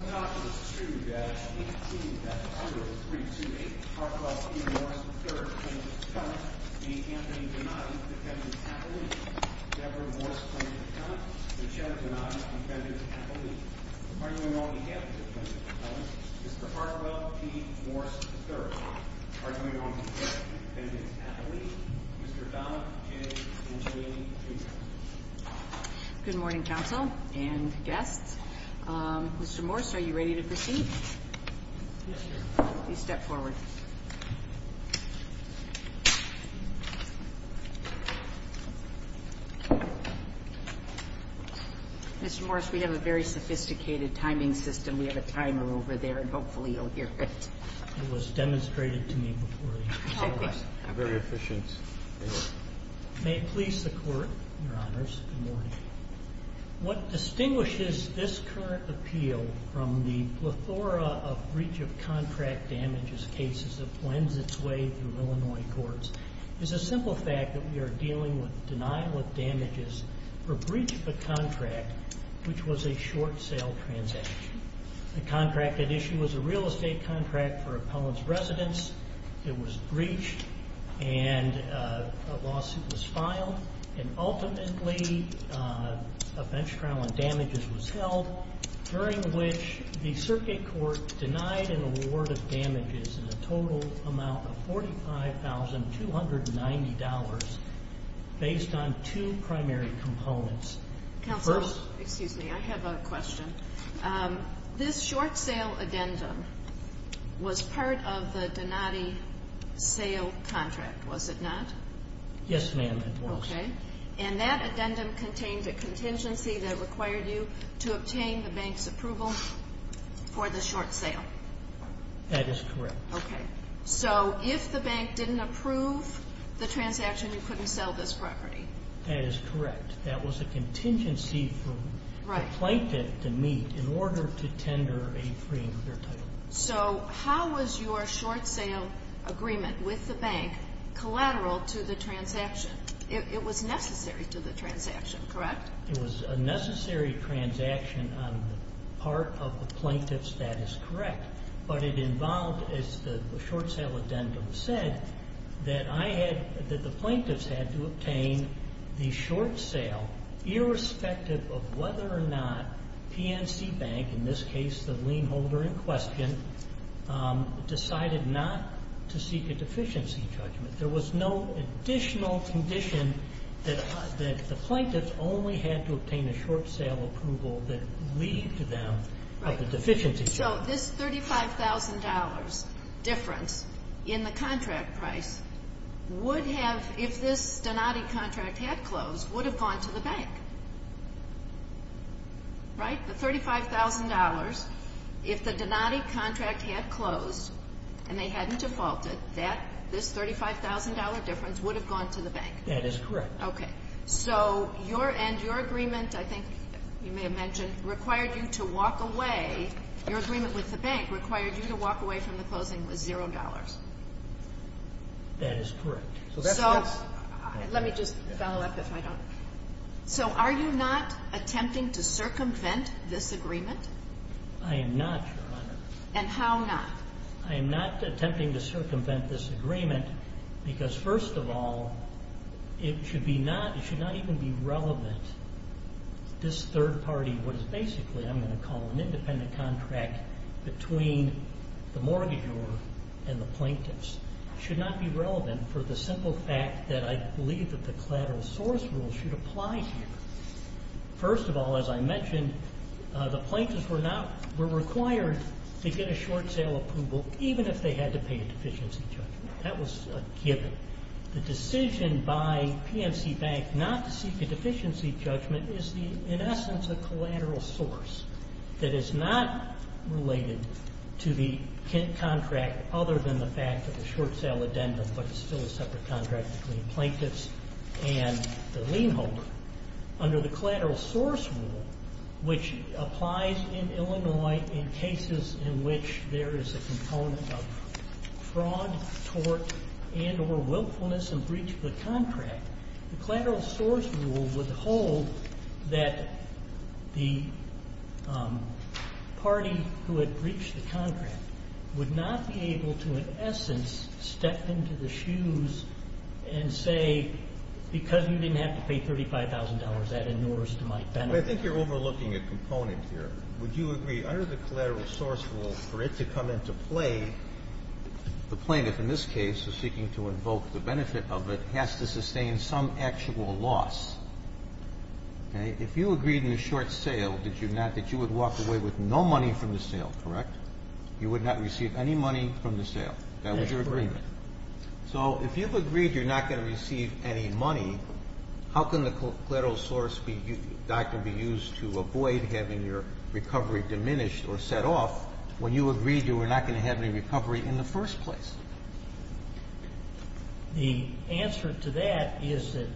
2-18-0328 Parkwell v. Morse III, plaintiff's attorney, being Anthony Donatti, defendant's athlete, Deborah Morse, plaintiff's attorney, and Chad Donatti, defendant's athlete. Arguing on behalf of the plaintiff's attorney, Mr. Parkwell v. Morse III, arguing on behalf of the defendant's athlete, Mr. Dona, Jay, and Jay Jr. Good morning, counsel and guests. Mr. Morse, are you ready to proceed? Yes, Your Honor. Please step forward. Mr. Morse, we have a very sophisticated timing system. We have a timer over there, and hopefully you'll hear it. It was demonstrated to me before. Okay. Very efficient. May it please the Court, Your Honors, good morning. What distinguishes this current appeal from the plethora of breach of contract damages cases that blends its way through Illinois courts is the simple fact that we are dealing with denial of damages for breach of a contract, which was a short sale transaction. The contract at issue was a real estate contract for Appellant's residence. It was breached, and a lawsuit was filed, and ultimately a bench trial on damages was held, during which the circuit court denied an award of damages in a total amount of $45,290 based on two primary components. Counsel, excuse me, I have a question. This short sale addendum was part of the Donati sale contract, was it not? Yes, ma'am, it was. Okay. And that addendum contained a contingency that required you to obtain the bank's approval for the short sale. That is correct. Okay. So if the bank didn't approve the transaction, you couldn't sell this property. That is correct. That was a contingency for the plaintiff to meet in order to tender a freeing of their title. So how was your short sale agreement with the bank collateral to the transaction? It was necessary to the transaction, correct? It was a necessary transaction on the part of the plaintiff's that is correct. But it involved, as the short sale addendum said, that I had, that the plaintiffs had to obtain the short sale irrespective of whether or not PNC Bank, in this case the lien holder in question, decided not to seek a deficiency judgment. There was no additional condition that the plaintiffs only had to obtain a short sale approval that lead to them of a deficiency judgment. So this $35,000 difference in the contract price would have, if this Donati contract had closed, would have gone to the bank. Right? The $35,000, if the Donati contract had closed and they hadn't defaulted, that, this $35,000 difference would have gone to the bank. That is correct. Okay. So your end, your agreement, I think you may have mentioned, required you to walk away, your agreement with the bank required you to walk away from the closing with $0. That is correct. So let me just follow up if I don't. So are you not attempting to circumvent this agreement? I am not, Your Honor. And how not? I am not attempting to circumvent this agreement because, first of all, it should be not, it should not even be relevant. This third party, what is basically, I'm going to call an independent contract between the mortgagor and the plaintiffs, should not be relevant for the simple fact that I believe that the collateral source rule should apply here. First of all, as I mentioned, the plaintiffs were not, were required to get a short sale approval even if they had to pay a deficiency judgment. That was a given. The decision by PNC Bank not to seek a deficiency judgment is the, in essence, a collateral source that is not related to the contract other than the fact that the short sale addendum, but it's still a separate contract between the plaintiffs and the lien holder. Under the collateral source rule, which applies in Illinois in cases in which there is a component of fraud, tort, and or willfulness in breach of the contract, the collateral source rule would hold that the party who had breached the contract would not be able to, in essence, step into the shoes and say, because you didn't have to pay $35,000, that inures to my benefit. But I think you're overlooking a component here. Would you agree under the collateral source rule for it to come into play? The plaintiff in this case is seeking to invoke the benefit of it has to sustain some actual loss. Okay? If you agreed in the short sale, did you not, that you would walk away with no money from the sale, correct? You would not receive any money from the sale. That was your agreement. Correct. So if you've agreed you're not going to receive any money, how can the collateral source doctrine be used to avoid having your recovery diminished or set off when you agreed you were not going to have any recovery in the first place? The answer to that is that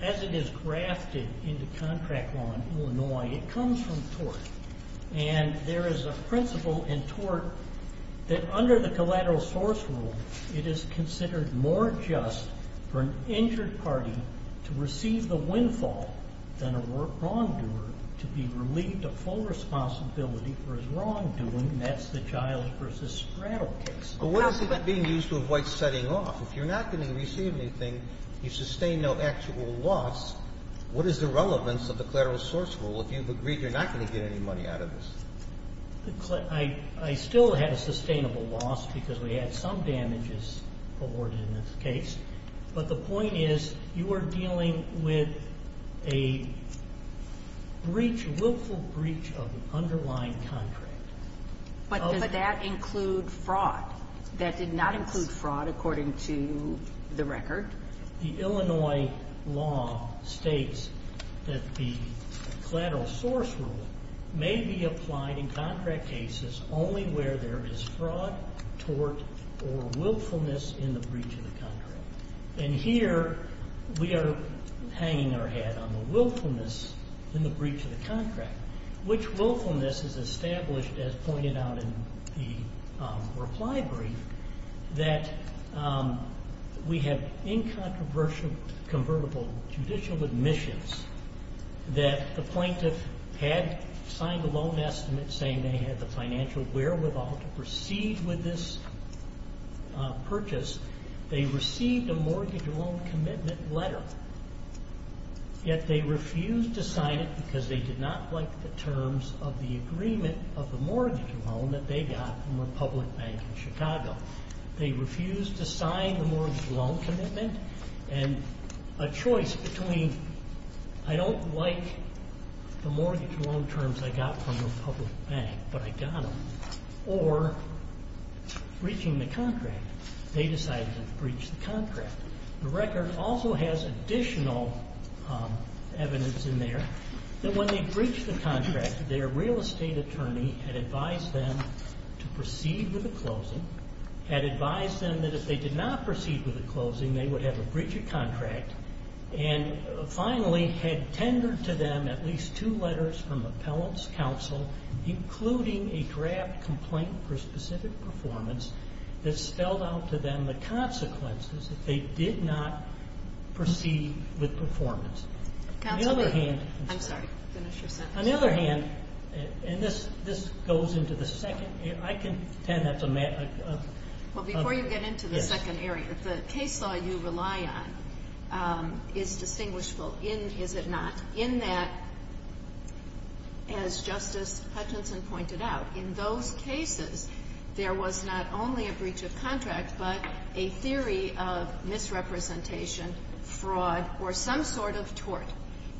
as it is grafted into contract law in Illinois, it comes from tort. And there is a principle in tort that under the collateral source rule, it is considered more just for an injured party to receive the windfall than a wrongdoer to be relieved of full responsibility for his wrongdoing, and that's the child versus straddle case. But what is it being used to avoid setting off? If you're not going to receive anything, you sustain no actual loss, what is the relevance of the collateral source rule? If you've agreed you're not going to get any money out of this. I still had a sustainable loss because we had some damages awarded in this case. But the point is you are dealing with a breach, willful breach of an underlying contract. But does that include fraud? That did not include fraud according to the record. The Illinois law states that the collateral source rule may be applied in contract cases only where there is fraud, tort, or willfulness in the breach of the contract. And here we are hanging our head on the willfulness in the breach of the contract. Which willfulness is established as pointed out in the reply brief, that we have incontroversial convertible judicial admissions that the plaintiff had signed a loan estimate saying they had the financial wherewithal to proceed with this purchase. They received a mortgage loan commitment letter, yet they refused to sign it because they did not like the terms of the agreement of the mortgage loan that they got from the public bank in Chicago. They refused to sign the mortgage loan commitment, and a choice between I don't like the mortgage loan terms I got from the public bank, but I got them, or breaching the contract. They decided to breach the contract. The record also has additional evidence in there that when they breached the contract, their real estate attorney had advised them to proceed with the closing, had advised them that if they did not proceed with the closing, they would have a breach of contract, and finally had tendered to them at least two letters from appellant's counsel, including a draft complaint for specific performance that spelled out to them the consequences if they did not proceed with performance. On the other hand, and this goes into the second area. I contend that's a matter of – Well, before you get into the second area, the case law you rely on is distinguishable in, is it not, in that, as Justice Hutchinson pointed out, in those cases there was not only a breach of contract, but a theory of misrepresentation, fraud, or some sort of tort.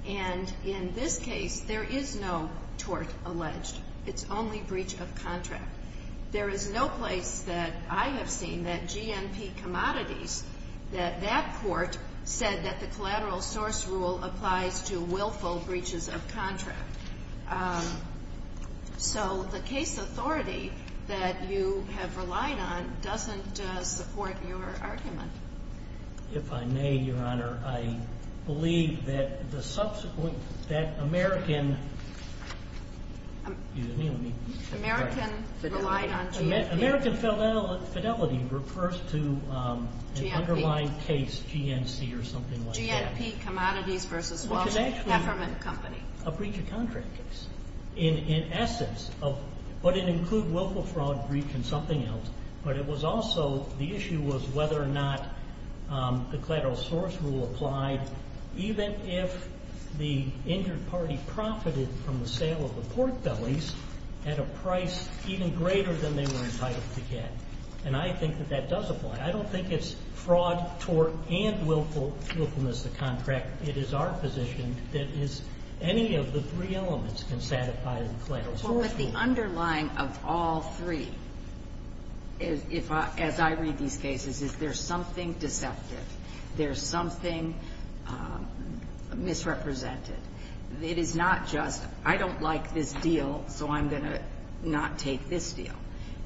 And in this case, there is no tort alleged. It's only breach of contract. There is no place that I have seen that GNP Commodities, that that court said that the collateral source rule applies to willful breaches of contract. So the case authority that you have relied on doesn't support your argument. If I may, Your Honor, I believe that the subsequent, that American – excuse me, let me – American relied on GNP. American Fidelity refers to an underlying case GNC or something like that. GNP Commodities v. Walsh Hefferman Company. A breach of contract case. In essence, would it include willful fraud, breach, and something else? But it was also – the issue was whether or not the collateral source rule applied even if the injured party profited from the sale of the pork bellies at a price even greater than they were entitled to get. And I think that that does apply. I don't think it's fraud, tort, and willfulness to contract. It is our position that any of the three elements can satisfy the collateral source rule. Well, but the underlying of all three, as I read these cases, is there's something deceptive. There's something misrepresented. It is not just, I don't like this deal, so I'm going to not take this deal.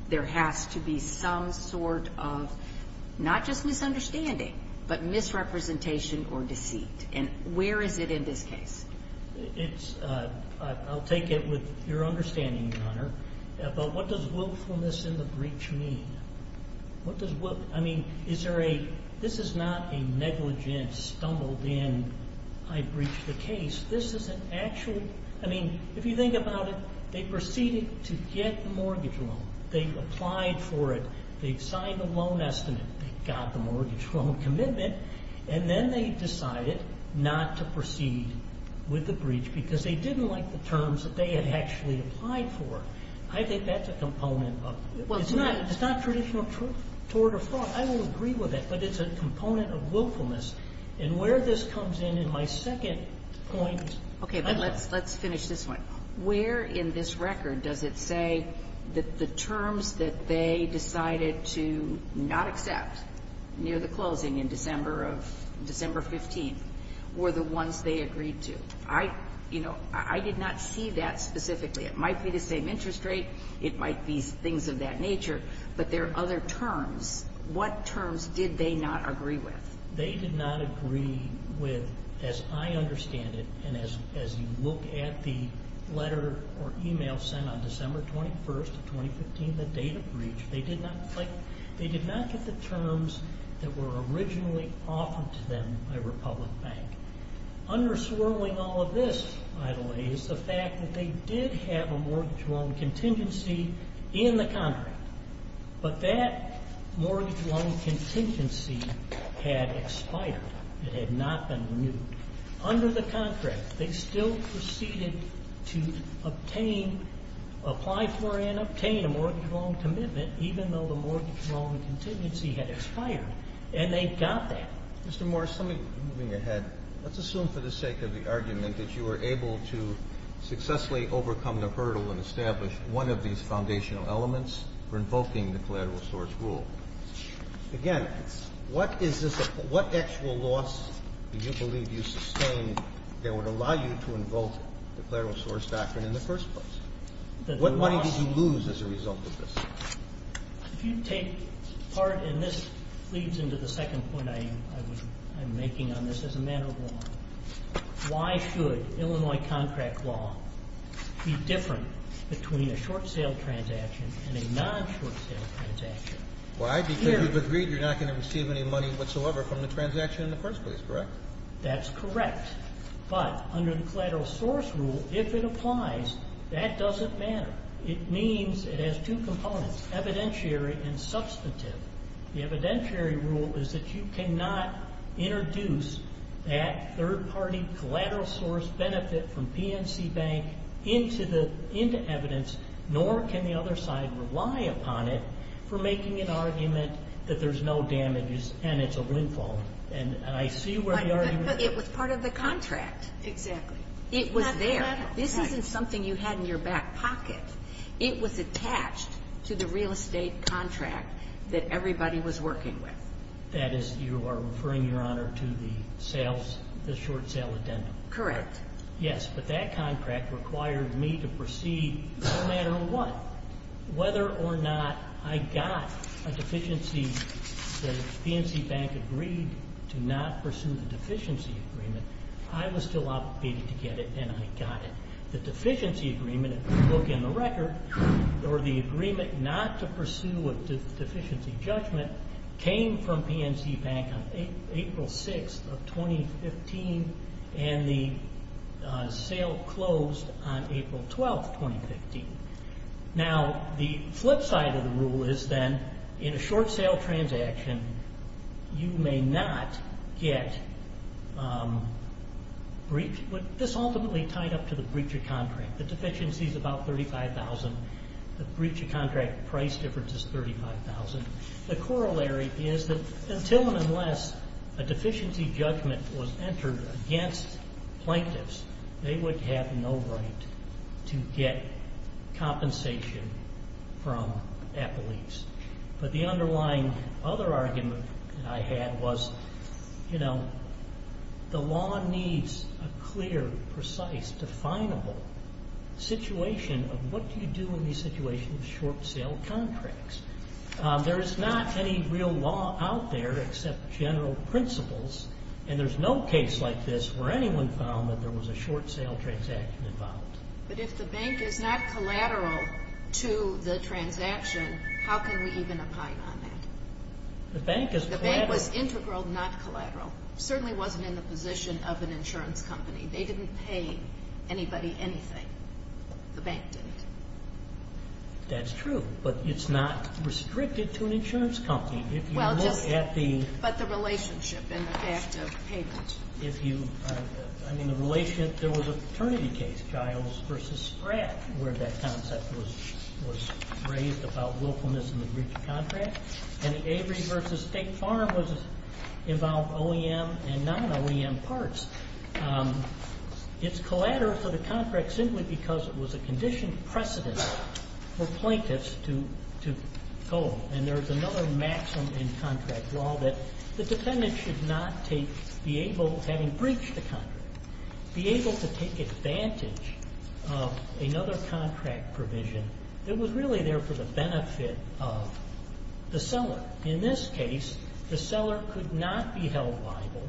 There has to be some sort of not just misunderstanding, but misrepresentation or deceit. And where is it in this case? It's – I'll take it with your understanding, Your Honor. But what does willfulness in the breach mean? What does will – I mean, is there a – this is not a negligent, stumbled-in, I breached the case. This is an actual – I mean, if you think about it, they proceeded to get the mortgage loan. They applied for it. They signed a loan estimate. They got the mortgage loan commitment. And then they decided not to proceed with the breach because they didn't like the terms that they had actually applied for. I think that's a component of – it's not traditional tort or fraud. I will agree with that, but it's a component of willfulness. And where this comes in in my second point – Okay, but let's finish this one. Where in this record does it say that the terms that they decided to not accept near the closing in December of – December 15th were the ones they agreed to? I – you know, I did not see that specifically. It might be the same interest rate. It might be things of that nature. But there are other terms. What terms did they not agree with? They did not agree with, as I understand it, and as you look at the letter or email sent on December 21st of 2015, the date of breach, they did not get the terms that were originally offered to them by Republic Bank. Underswirling all of this, by the way, is the fact that they did have a mortgage loan contingency in the contract. But that mortgage loan contingency had expired. It had not been renewed. Under the contract, they still proceeded to obtain – apply for and obtain a mortgage loan commitment, even though the mortgage loan contingency had expired, and they got that. Mr. Morris, let me – moving ahead, let's assume for the sake of the argument that you were able to successfully overcome the hurdle and establish one of these foundational elements for invoking the collateral source rule. Again, what is this – what actual loss do you believe you sustained that would allow you to invoke the collateral source doctrine in the first place? What money did you lose as a result of this? If you take part – and this leads into the second point I'm making on this as a matter of law. Why should Illinois contract law be different between a short-sale transaction and a non-short-sale transaction? Why? Because you've agreed you're not going to receive any money whatsoever from the transaction in the first place, correct? That's correct. But under the collateral source rule, if it applies, that doesn't matter. It means it has two components, evidentiary and substantive. The evidentiary rule is that you cannot introduce that third-party collateral source benefit from PNC Bank into evidence, nor can the other side rely upon it for making an argument that there's no damage and it's a windfall. And I see where the argument is. But it was part of the contract. Exactly. It was there. This isn't something you had in your back pocket. It was attached to the real estate contract that everybody was working with. That is, you are referring, Your Honor, to the sales, the short-sale addendum. Correct. Yes, but that contract required me to proceed no matter what. Whether or not I got a deficiency that PNC Bank agreed to not pursue the deficiency agreement, I was still obligated to get it, and I got it. The deficiency agreement, if you look in the record, or the agreement not to pursue a deficiency judgment came from PNC Bank on April 6th of 2015, and the sale closed on April 12th, 2015. Now, the flip side of the rule is then in a short-sale transaction, you may not get breach. This ultimately tied up to the breach of contract. The deficiency is about $35,000. The breach of contract price difference is $35,000. The corollary is that until and unless a deficiency judgment was entered against plaintiffs, they would have no right to get compensation from Applebee's. But the underlying other argument that I had was, you know, the law needs a clear, precise, definable situation of what do you do in the situation of short-sale contracts. There is not any real law out there except general principles, and there's no case like this where anyone found that there was a short-sale transaction involved. But if the bank is not collateral to the transaction, how can we even opine on that? The bank is collateral. The bank was integral, not collateral. It certainly wasn't in the position of an insurance company. They didn't pay anybody anything. The bank did. That's true, but it's not restricted to an insurance company. If you look at the... But the relationship and the fact of payment. I mean, there was a paternity case, Giles v. Spratt, where that concept was raised about willfulness in the breach of contract. And the Avery v. State Farm involved OEM and non-OEM parts. It's collateral for the contract simply because it was a conditioned precedent for plaintiffs to go. And there's another maximum in contract law that the defendant should not take, be able, having breached a contract, be able to take advantage of another contract provision that was really there for the benefit of the seller. In this case, the seller could not be held liable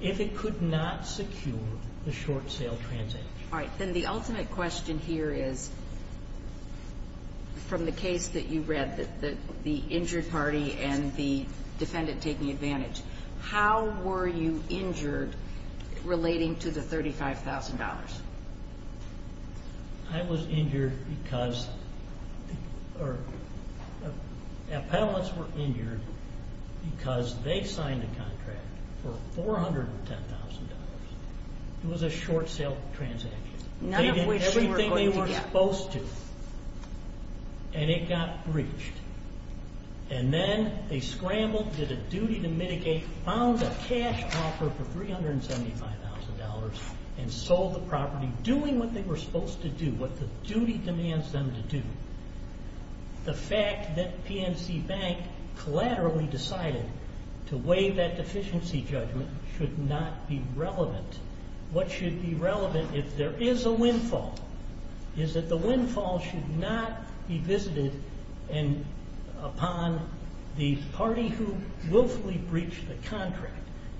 if it could not secure the short-sale transaction. All right. Then the ultimate question here is, from the case that you read, the injured party and the defendant taking advantage, how were you injured relating to the $35,000? I was injured because the appellants were injured because they signed a contract for $410,000. It was a short-sale transaction. They did everything they were supposed to, and it got breached. And then they scrambled, did a duty to mitigate, found a cash offer for $375,000, and sold the property doing what they were supposed to do, what the duty demands them to do. The fact that PNC Bank collaterally decided to waive that deficiency judgment should not be relevant. What should be relevant, if there is a windfall, is that the windfall should not be visited upon the party who willfully breached the contract.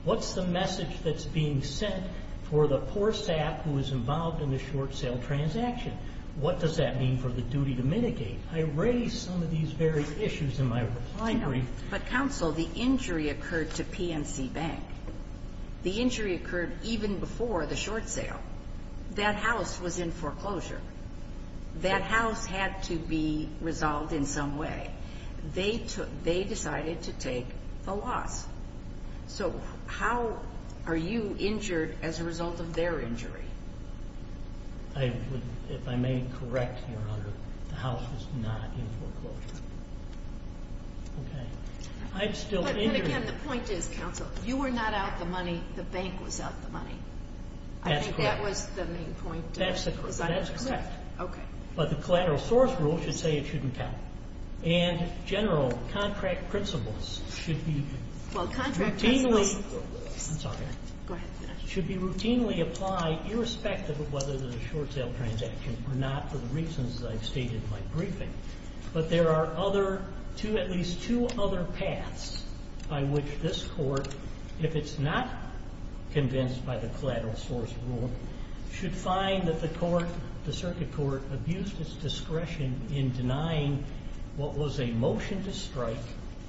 What's the message that's being sent for the poor sap who is involved in the short-sale transaction? What does that mean for the duty to mitigate? I raised some of these very issues in my reply brief. I know, but counsel, the injury occurred to PNC Bank. The injury occurred even before the short sale. That house was in foreclosure. That house had to be resolved in some way. They decided to take the loss. So how are you injured as a result of their injury? If I may correct your honor, the house was not in foreclosure. Okay. I'm still injured. But, again, the point is, counsel, you were not out the money. The bank was out the money. That's correct. I think that was the main point. That's correct. Okay. But the collateral source rule should say it shouldn't count. And general contract principles should be routinely. Well, contract principles. I'm sorry. Go ahead. Should be routinely applied irrespective of whether there's a short sale transaction or not for the reasons that I've stated in my briefing. But there are at least two other paths by which this court, if it's not convinced by the collateral source rule, should find that the court, the circuit court, abused its discretion in denying what was a motion to strike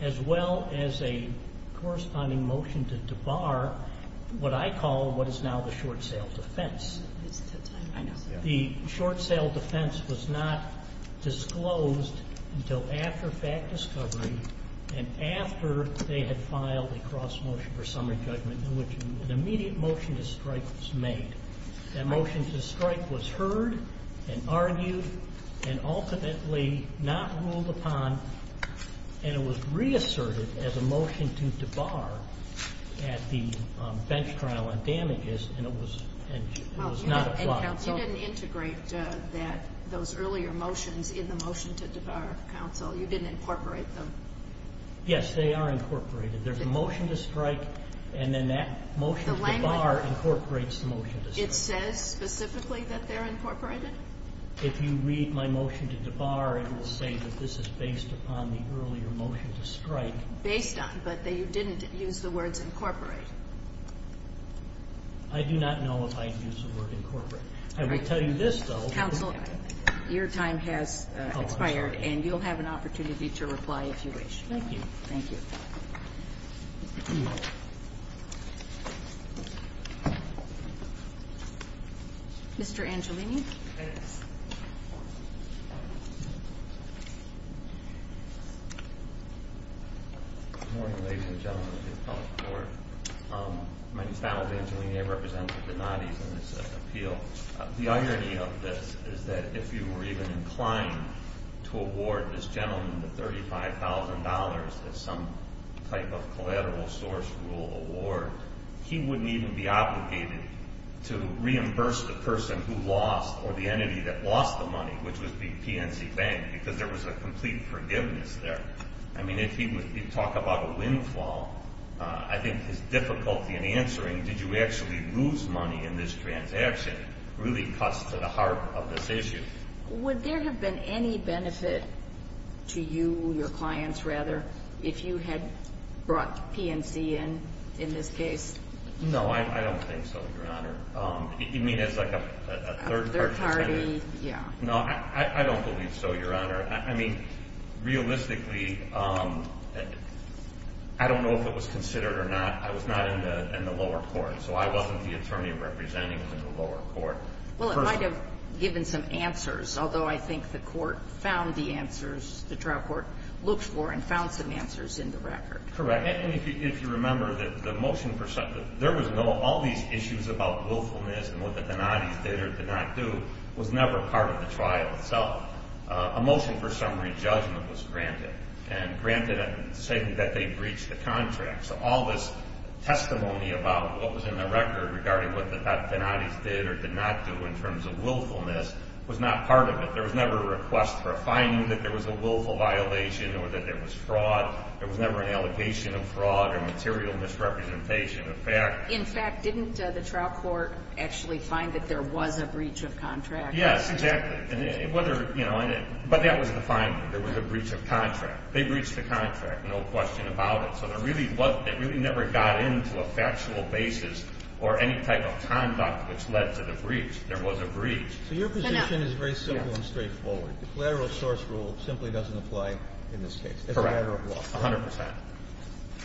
as well as a corresponding motion to bar what I call what is now the short sale defense. I know. The short sale defense was not disclosed until after fact discovery and after they had filed a cross motion for summary judgment in which an immediate motion to strike was made. That motion to strike was heard and argued and ultimately not ruled upon, and it was reasserted as a motion to debar at the bench trial on damages, and it was not applied. You didn't integrate those earlier motions in the motion to debar, counsel. You didn't incorporate them. Yes, they are incorporated. There's a motion to strike, and then that motion to debar incorporates the motion to strike. It says specifically that they're incorporated? If you read my motion to debar, it will say that this is based upon the earlier motion to strike. Based on, but that you didn't use the words incorporate. I do not know if I used the word incorporate. I will tell you this, though. Counsel, your time has expired, and you'll have an opportunity to reply if you wish. Thank you. Thank you. Mr. Angelini. Thanks. Good morning, ladies and gentlemen of the appellate court. My name is Donald Angelini. I represent the Donatis in this appeal. The irony of this is that if you were even inclined to award this gentleman the $35,000 as some type of collateral source rule award, he wouldn't even be obligated to reimburse the person who lost or the entity that lost the money, which would be PNC Bank, because there was a complete forgiveness there. I mean, if he would talk about a windfall, I think his difficulty in answering did you actually lose money in this transaction really cuts to the heart of this issue. Would there have been any benefit to you, your clients, rather, if you had brought PNC in in this case? No, I don't think so, Your Honor. You mean as, like, a third party? A third party, yeah. No, I don't believe so, Your Honor. I mean, realistically, I don't know if it was considered or not. I was not in the lower court, so I wasn't the attorney representing the lower court. Well, it might have given some answers, although I think the court found the answers the trial court looked for and found some answers in the record. Correct. And if you remember, there was no all these issues about willfulness and what the penalties did or did not do was never part of the trial itself. A motion for summary judgment was granted, and granted saying that they breached the contract. So all this testimony about what was in the record regarding what the penalties did or did not do in terms of willfulness was not part of it. There was never a request for a finding that there was a willful violation or that there was fraud. There was never an allegation of fraud or material misrepresentation of fact. In fact, didn't the trial court actually find that there was a breach of contract? Yes, exactly. Whether, you know, but that was the finding. There was a breach of contract. They breached the contract, no question about it. So they really never got into a factual basis or any type of conduct which led to the breach. There was a breach. So your position is very simple and straightforward. The collateral source rule simply doesn't apply in this case. It's a matter of law. Correct, 100 percent.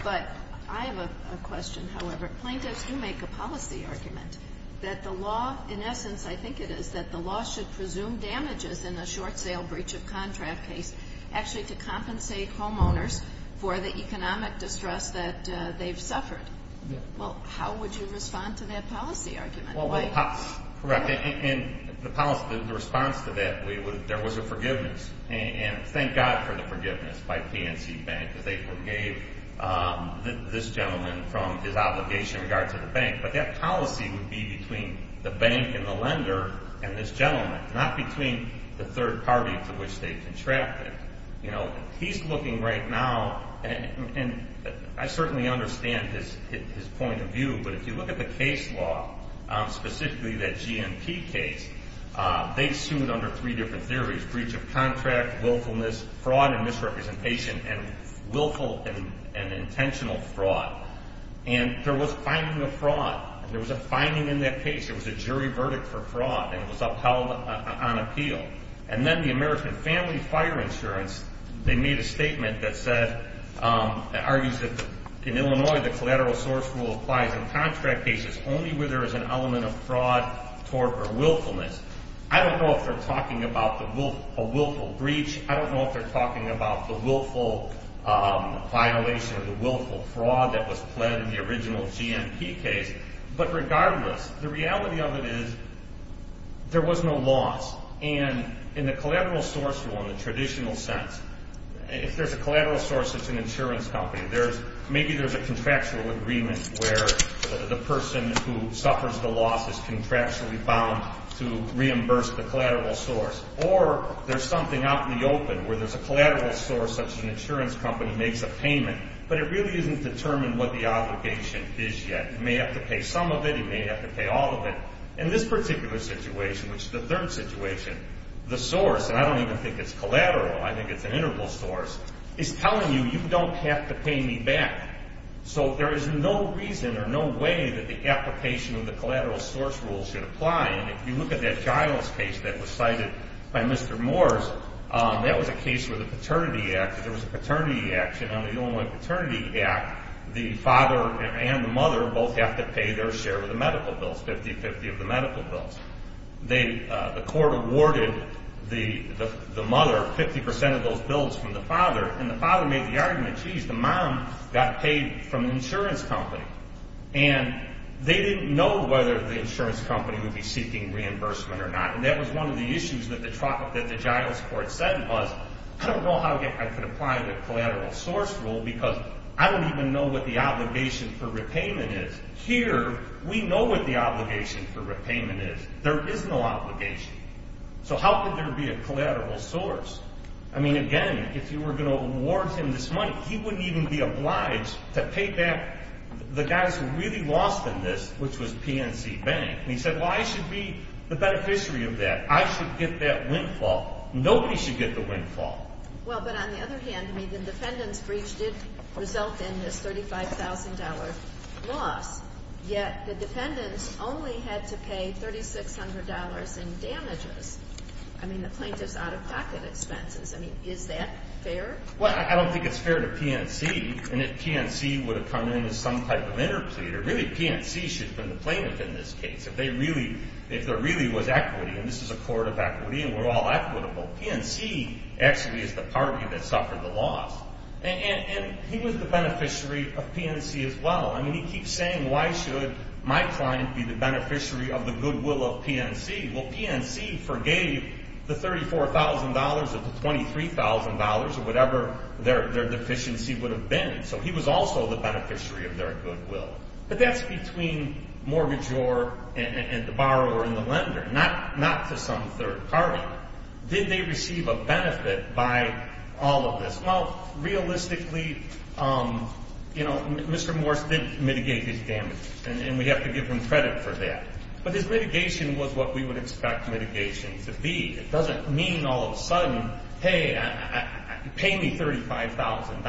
But I have a question, however. Plaintiffs do make a policy argument that the law, in essence, I think it is that the law should presume damages in a short sale breach of contract case actually to compensate homeowners for the economic distress that they've suffered. Well, how would you respond to that policy argument? Well, correct. In the policy, the response to that, there was a forgiveness. And thank God for the forgiveness by PNC Bank, because they forgave this gentleman from his obligation in regard to the bank. But that policy would be between the bank and the lender and this gentleman, not between the third party to which they contracted. You know, he's looking right now, and I certainly understand his point of view, but if you look at the case law, specifically that GNP case, they sued under three different theories, breach of contract, willfulness, fraud and misrepresentation, and willful and intentional fraud. And there was finding of fraud. There was a finding in that case. There was a jury verdict for fraud, and it was upheld on appeal. And then the American Family Fire Insurance, they made a statement that said, that argues that in Illinois, the collateral source rule applies in contract cases only where there is an element of fraud or willfulness. I don't know if they're talking about a willful breach. I don't know if they're talking about the willful violation or the willful fraud that was pled in the original GNP case. But regardless, the reality of it is there was no loss. And in the collateral source rule, in the traditional sense, if there's a collateral source such as an insurance company, maybe there's a contractual agreement where the person who suffers the loss is contractually bound to reimburse the collateral source. Or there's something out in the open where there's a collateral source such as an insurance company makes a payment, but it really isn't determined what the obligation is yet. He may have to pay some of it. He may have to pay all of it. In this particular situation, which is the third situation, the source, and I don't even think it's collateral, I think it's an interval source, is telling you you don't have to pay me back. So there is no reason or no way that the application of the collateral source rule should apply. And if you look at that Giles case that was cited by Mr. Moores, that was a case where the Paternity Act, if there was a paternity action on the Illinois Paternity Act, the father and the mother both have to pay their share of the medical bills, 50-50 of the medical bills. The court awarded the mother 50% of those bills from the father, and the father made the argument, geez, the mom got paid from the insurance company. And they didn't know whether the insurance company would be seeking reimbursement or not. And that was one of the issues that the Giles court said was, I don't know how I could apply the collateral source rule because I don't even know what the obligation for repayment is. Here, we know what the obligation for repayment is. There is no obligation. So how could there be a collateral source? I mean, again, if you were going to award him this money, he wouldn't even be obliged to pay back the guys who really lost in this, which was PNC Bank. And he said, well, I should be the beneficiary of that. I should get that windfall. Nobody should get the windfall. Well, but on the other hand, the defendant's breach did result in this $35,000 loss, yet the defendants only had to pay $3,600 in damages. I mean, the plaintiff's out-of-pocket expenses. I mean, is that fair? Well, I don't think it's fair to PNC. And if PNC would have come in as some type of interpleader, really PNC should have been the plaintiff in this case. If there really was equity, and this is a court of equity and we're all equitable, PNC actually is the party that suffered the loss. And he was the beneficiary of PNC as well. I mean, he keeps saying, why should my client be the beneficiary of the goodwill of PNC? Well, PNC forgave the $34,000 of the $23,000 or whatever their deficiency would have been. So he was also the beneficiary of their goodwill. But that's between mortgagor and the borrower and the lender, not to some third party. Now, did they receive a benefit by all of this? Well, realistically, you know, Mr. Morse didn't mitigate his damages, and we have to give him credit for that. But his mitigation was what we would expect mitigation to be. It doesn't mean all of a sudden, hey, pay me $35,000.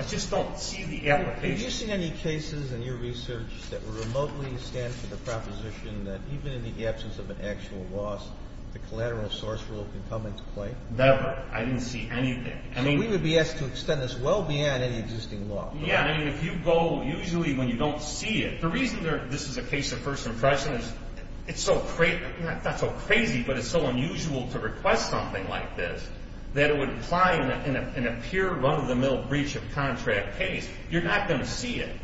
I just don't see the application. Have you seen any cases in your research that remotely stand for the proposition that even in the absence of an actual loss, the collateral source rule can come into play? Never. I didn't see anything. I mean, we would be asked to extend this well beyond any existing law. Yeah, I mean, if you go usually when you don't see it. The reason this is a case of first impression is it's so crazy, not so crazy, but it's so unusual to request something like this, that it would apply in a pure run-of-the-mill breach of contract case. You're not going to see it.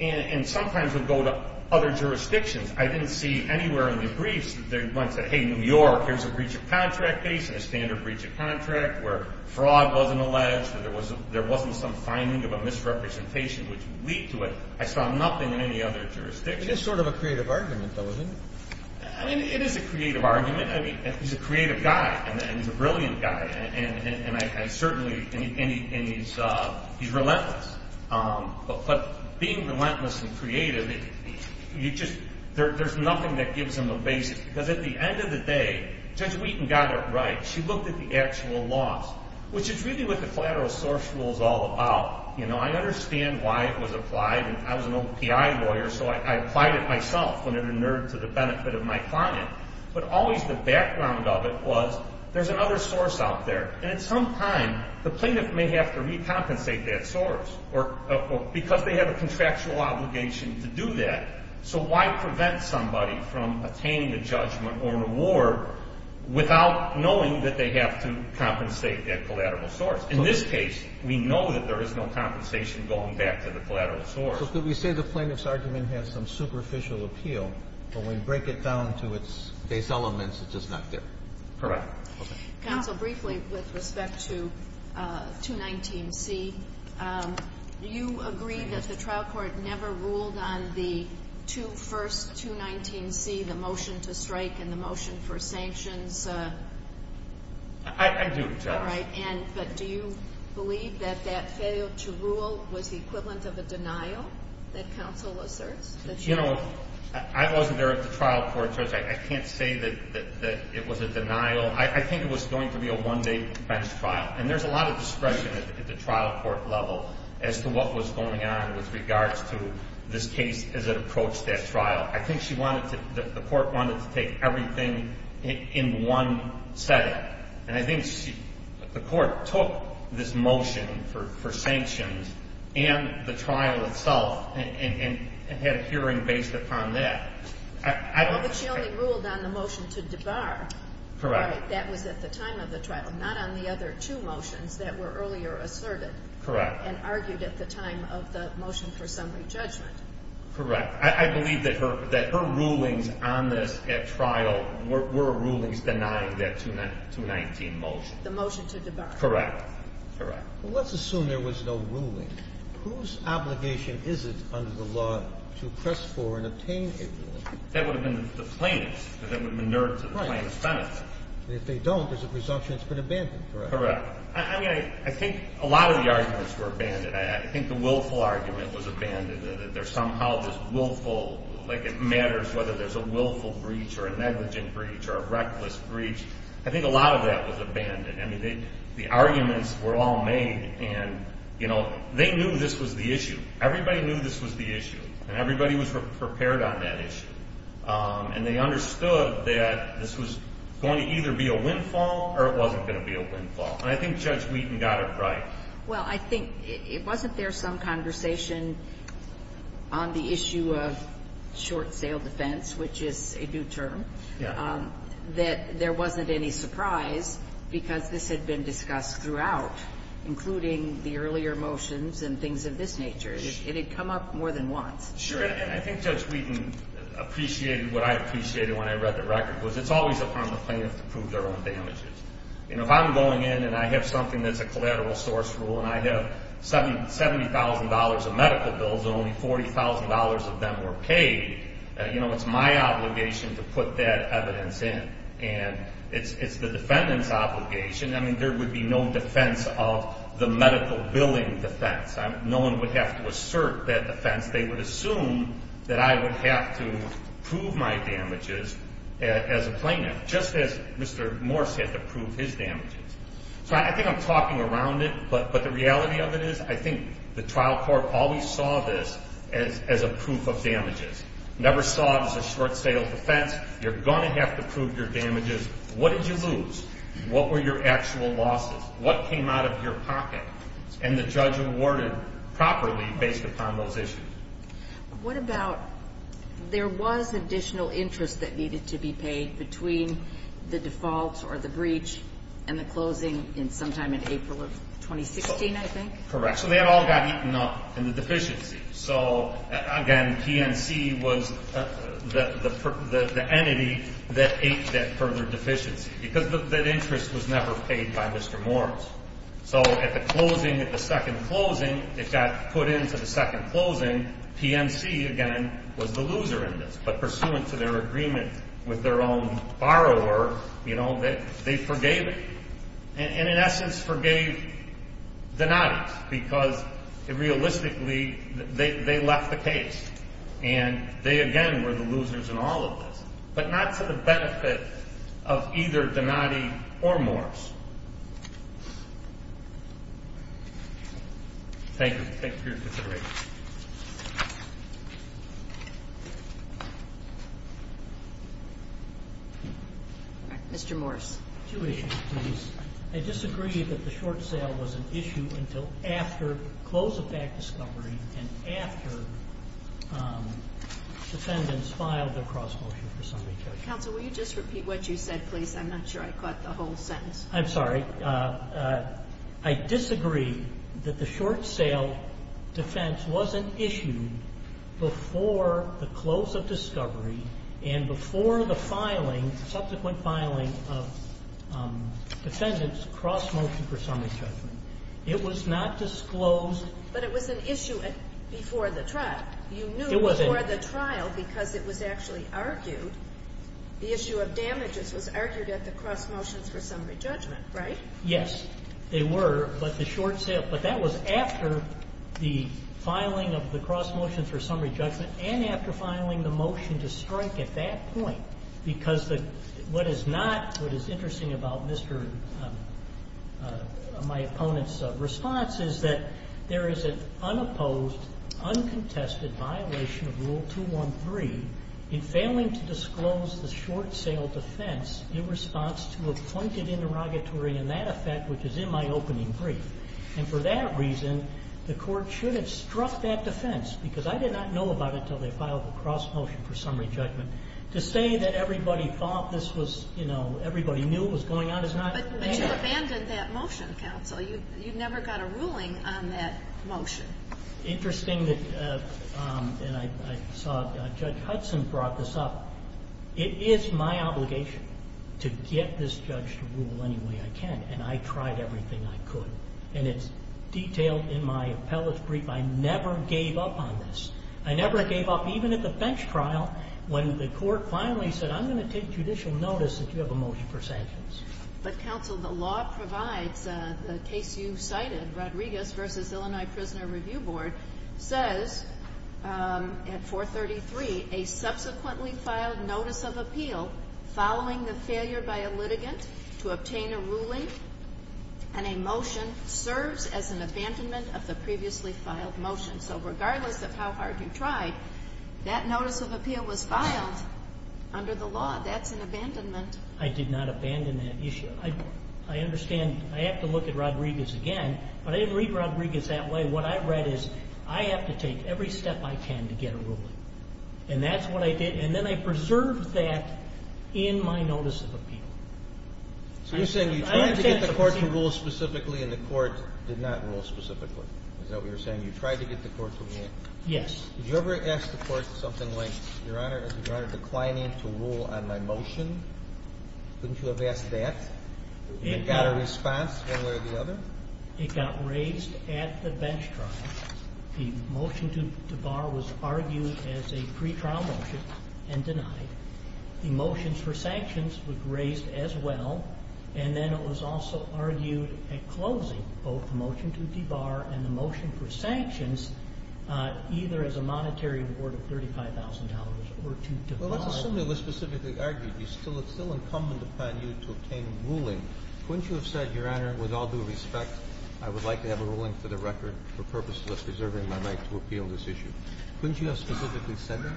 And sometimes it would go to other jurisdictions. I didn't see anywhere in the briefs that went to, hey, New York, here's a breach of contract case and a standard breach of contract where fraud wasn't alleged or there wasn't some finding of a misrepresentation which would lead to it. I saw nothing in any other jurisdiction. It is sort of a creative argument, though, isn't it? I mean, it is a creative argument. I mean, he's a creative guy, and he's a brilliant guy, and certainly he's relentless. But being relentless and creative, there's nothing that gives him a basis. Because at the end of the day, Judge Wheaton got it right. She looked at the actual loss, which is really what the collateral source rule is all about. I understand why it was applied, and I was an old PI lawyer, so I applied it myself when it inured to the benefit of my client. But always the background of it was there's another source out there, and at some time, the plaintiff may have to recompensate that source because they have a contractual obligation to do that. So why prevent somebody from attaining a judgment or reward without knowing that they have to compensate that collateral source? In this case, we know that there is no compensation going back to the collateral source. So could we say the plaintiff's argument has some superficial appeal, but when we break it down to its base elements, it's just not there? Correct. Counsel, briefly with respect to 219C, do you agree that the trial court never ruled on the first 219C, the motion to strike and the motion for sanctions? I do, Judge. But do you believe that that failure to rule was the equivalent of a denial that counsel asserts? I wasn't there at the trial court, Judge. I can't say that it was a denial. I think it was going to be a one-day bench trial, and there's a lot of discretion at the trial court level as to what was going on with regards to this case as it approached that trial. I think the court wanted to take everything in one setting, and I think the court took this motion for sanctions and the trial itself and had a hearing based upon that. But she only ruled on the motion to debar. Correct. That was at the time of the trial, not on the other two motions that were earlier asserted. Correct. And argued at the time of the motion for summary judgment. Correct. I believe that her rulings on this at trial were rulings denying that 219 motion. The motion to debar. Correct. Correct. Well, let's assume there was no ruling. Whose obligation is it under the law to press for and obtain a ruling? That would have been the plaintiff's, because it would have been inert to the plaintiff's benefit. Right. And if they don't, there's a presumption it's been abandoned, correct? Correct. I mean, I think a lot of the arguments were abandoned. I think the willful argument was abandoned, that there's somehow this willful, like it matters whether there's a willful breach or a negligent breach or a reckless breach. I think a lot of that was abandoned. I mean, the arguments were all made, and, you know, they knew this was the issue. Everybody knew this was the issue, and everybody was prepared on that issue. And they understood that this was going to either be a windfall or it wasn't going to be a windfall. And I think Judge Wheaton got it right. Well, I think it wasn't there some conversation on the issue of short sale defense, which is a new term, that there wasn't any surprise because this had been discussed throughout, including the earlier motions and things of this nature. It had come up more than once. Sure, and I think Judge Wheaton appreciated what I appreciated when I read the record, was it's always upon the plaintiff to prove their own damages. You know, if I'm going in and I have something that's a collateral source rule and I have $70,000 of medical bills and only $40,000 of them were paid, you know, it's my obligation to put that evidence in. And it's the defendant's obligation. I mean, there would be no defense of the medical billing defense. No one would have to assert that defense. They would assume that I would have to prove my damages as a plaintiff, just as Mr. Morse had to prove his damages. So I think I'm talking around it, but the reality of it is I think the trial court always saw this as a proof of damages. Never saw it as a short-sale defense. You're going to have to prove your damages. What did you lose? What were your actual losses? What came out of your pocket? And the judge awarded properly based upon those issues. What about there was additional interest that needed to be paid between the default or the breach and the closing sometime in April of 2016, I think? Correct. So that all got eaten up in the deficiency. So, again, PNC was the entity that ate that further deficiency because that interest was never paid by Mr. Morse. So at the closing, at the second closing, it got put into the second closing. PNC, again, was the loser in this. But pursuant to their agreement with their own borrower, you know, they forgave it. And, in essence, forgave Donati because, realistically, they left the case. And they, again, were the losers in all of this, but not to the benefit of either Donati or Morse. Thank you for your consideration. Mr. Morse. Two issues, please. I disagree that the short sale was an issue until after close of back discovery and after defendants filed their cross-motion for summary charges. Counsel, will you just repeat what you said, please? I'm not sure I caught the whole sentence. I'm sorry. I disagree that the short sale defense wasn't issued before the close of discovery and before the filing, subsequent filing, of defendants' cross-motion for summary judgment. It was not disclosed. But it was an issue before the trial. It wasn't. You knew before the trial because it was actually argued. The issue of damages was argued at the cross-motions for summary judgment, right? Yes. They were. But the short sale. But that was after the filing of the cross-motion for summary judgment and after filing the motion to strike at that point. What is interesting about my opponent's response is that there is an unopposed, uncontested violation of Rule 213 in failing to disclose the short sale defense in response to a pointed interrogatory in that effect, which is in my opening brief. And for that reason, the court should have struck that defense because I did not know about it until they filed the cross-motion for summary judgment. To say that everybody thought this was, you know, everybody knew what was going on is not fair. But you abandoned that motion, Counsel. You never got a ruling on that motion. Interesting that, and I saw Judge Hudson brought this up. It is my obligation to get this judge to rule any way I can, and I tried everything I could. And it's detailed in my appellate's brief. I never gave up on this. I never gave up even at the bench trial when the court finally said, I'm going to take judicial notice that you have a motion for sanctions. But, Counsel, the law provides, the case you cited, Rodriguez v. Illinois Prisoner Review Board, says at 433, a subsequently filed notice of appeal following the failure by a litigant to obtain a ruling and a motion serves as an abandonment of the previously filed motion. So regardless of how hard you tried, that notice of appeal was filed under the law. That's an abandonment. I did not abandon that issue. I understand. I have to look at Rodriguez again. But I didn't read Rodriguez that way. What I read is, I have to take every step I can to get a ruling. And that's what I did. And then I preserved that in my notice of appeal. So you're saying you tried to get the court to rule specifically and the court did not rule specifically. Is that what you're saying? You tried to get the court to rule? Yes. Did you ever ask the court something like, Your Honor, is Your Honor declining to rule on my motion? Couldn't you have asked that? It got a response one way or the other? It got raised at the bench trial. The motion to debar was argued as a pretrial motion and denied. The motions for sanctions were raised as well. And then it was also argued at closing, both the motion to debar and the motion for sanctions, either as a monetary reward of $35,000 or to debar. Well, let's assume it was specifically argued. It's still incumbent upon you to obtain a ruling. Couldn't you have said, Your Honor, with all due respect, I would like to have a ruling for the record for purposes of preserving my right to appeal this issue? Couldn't you have specifically said that?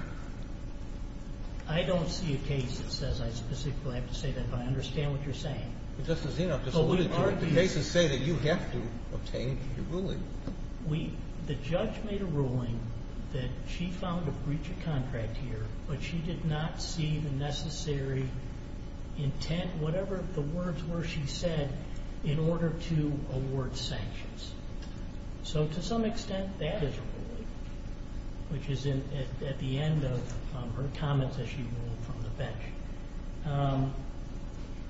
I don't see a case that says I specifically have to say that, but I understand what you're saying. Justice Zinoff, the cases say that you have to obtain a ruling. The judge made a ruling that she found a breach of contract here, but she did not see the necessary intent, whatever the words were she said, in order to award sanctions. So to some extent, that is a ruling, which is at the end of her comments as she ruled from the bench.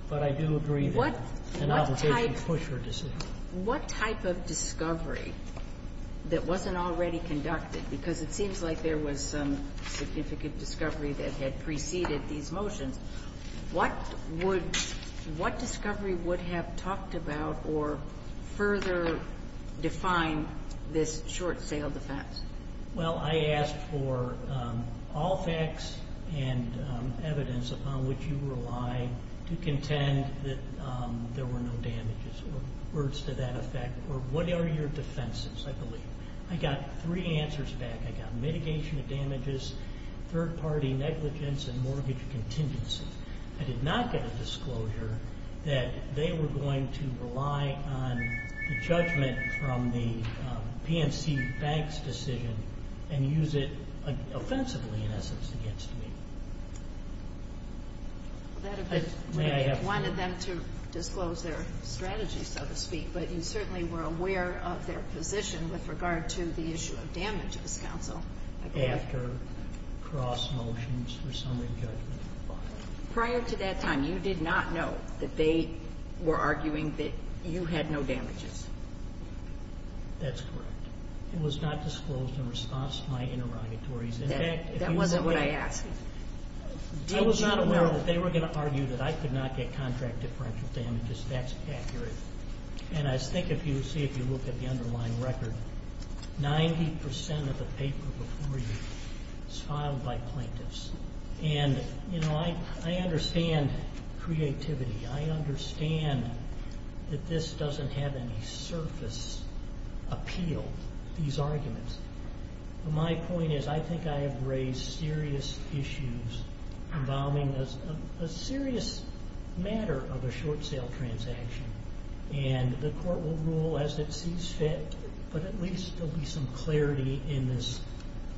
But I do agree that an obligation pushed her decision. What type of discovery that wasn't already conducted, because it seems like there was some significant discovery that had preceded these motions, what discovery would have talked about or further defined this short sale defense? Well, I asked for all facts and evidence upon which you rely to contend that there were no damages or words to that effect, or what are your defenses, I believe. I got three answers back. I got mitigation of damages, third-party negligence, and mortgage contingency. I did not get a disclosure that they were going to rely on the judgment from the PNC Bank's decision and use it offensively, in essence, against me. I wanted them to disclose their strategy, so to speak, but you certainly were aware of their position with regard to the issue of damages, counsel. Prior to that time, you did not know that they were arguing that you had no damages. That's correct. It was not disclosed in response to my interrogatories. That wasn't what I asked. I was not aware that they were going to argue that I could not get contract differential damages. That's accurate. And I think if you see, if you look at the underlying record, 90 percent of the paper before you is filed by plaintiffs. And, you know, I understand creativity. I understand that this doesn't have any surface appeal, these arguments. My point is I think I have raised serious issues involving a serious matter of a short sale transaction. And the court will rule as it sees fit, but at least there will be some clarity in this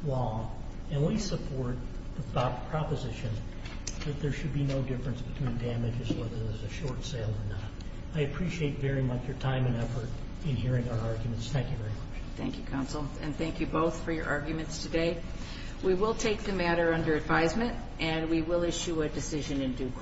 law. And we support the proposition that there should be no difference between damages, whether there's a short sale or not. I appreciate very much your time and effort in hearing our arguments. Thank you very much. Thank you, counsel. And thank you both for your arguments today. We will take the matter under advisement, and we will issue a decision in due course.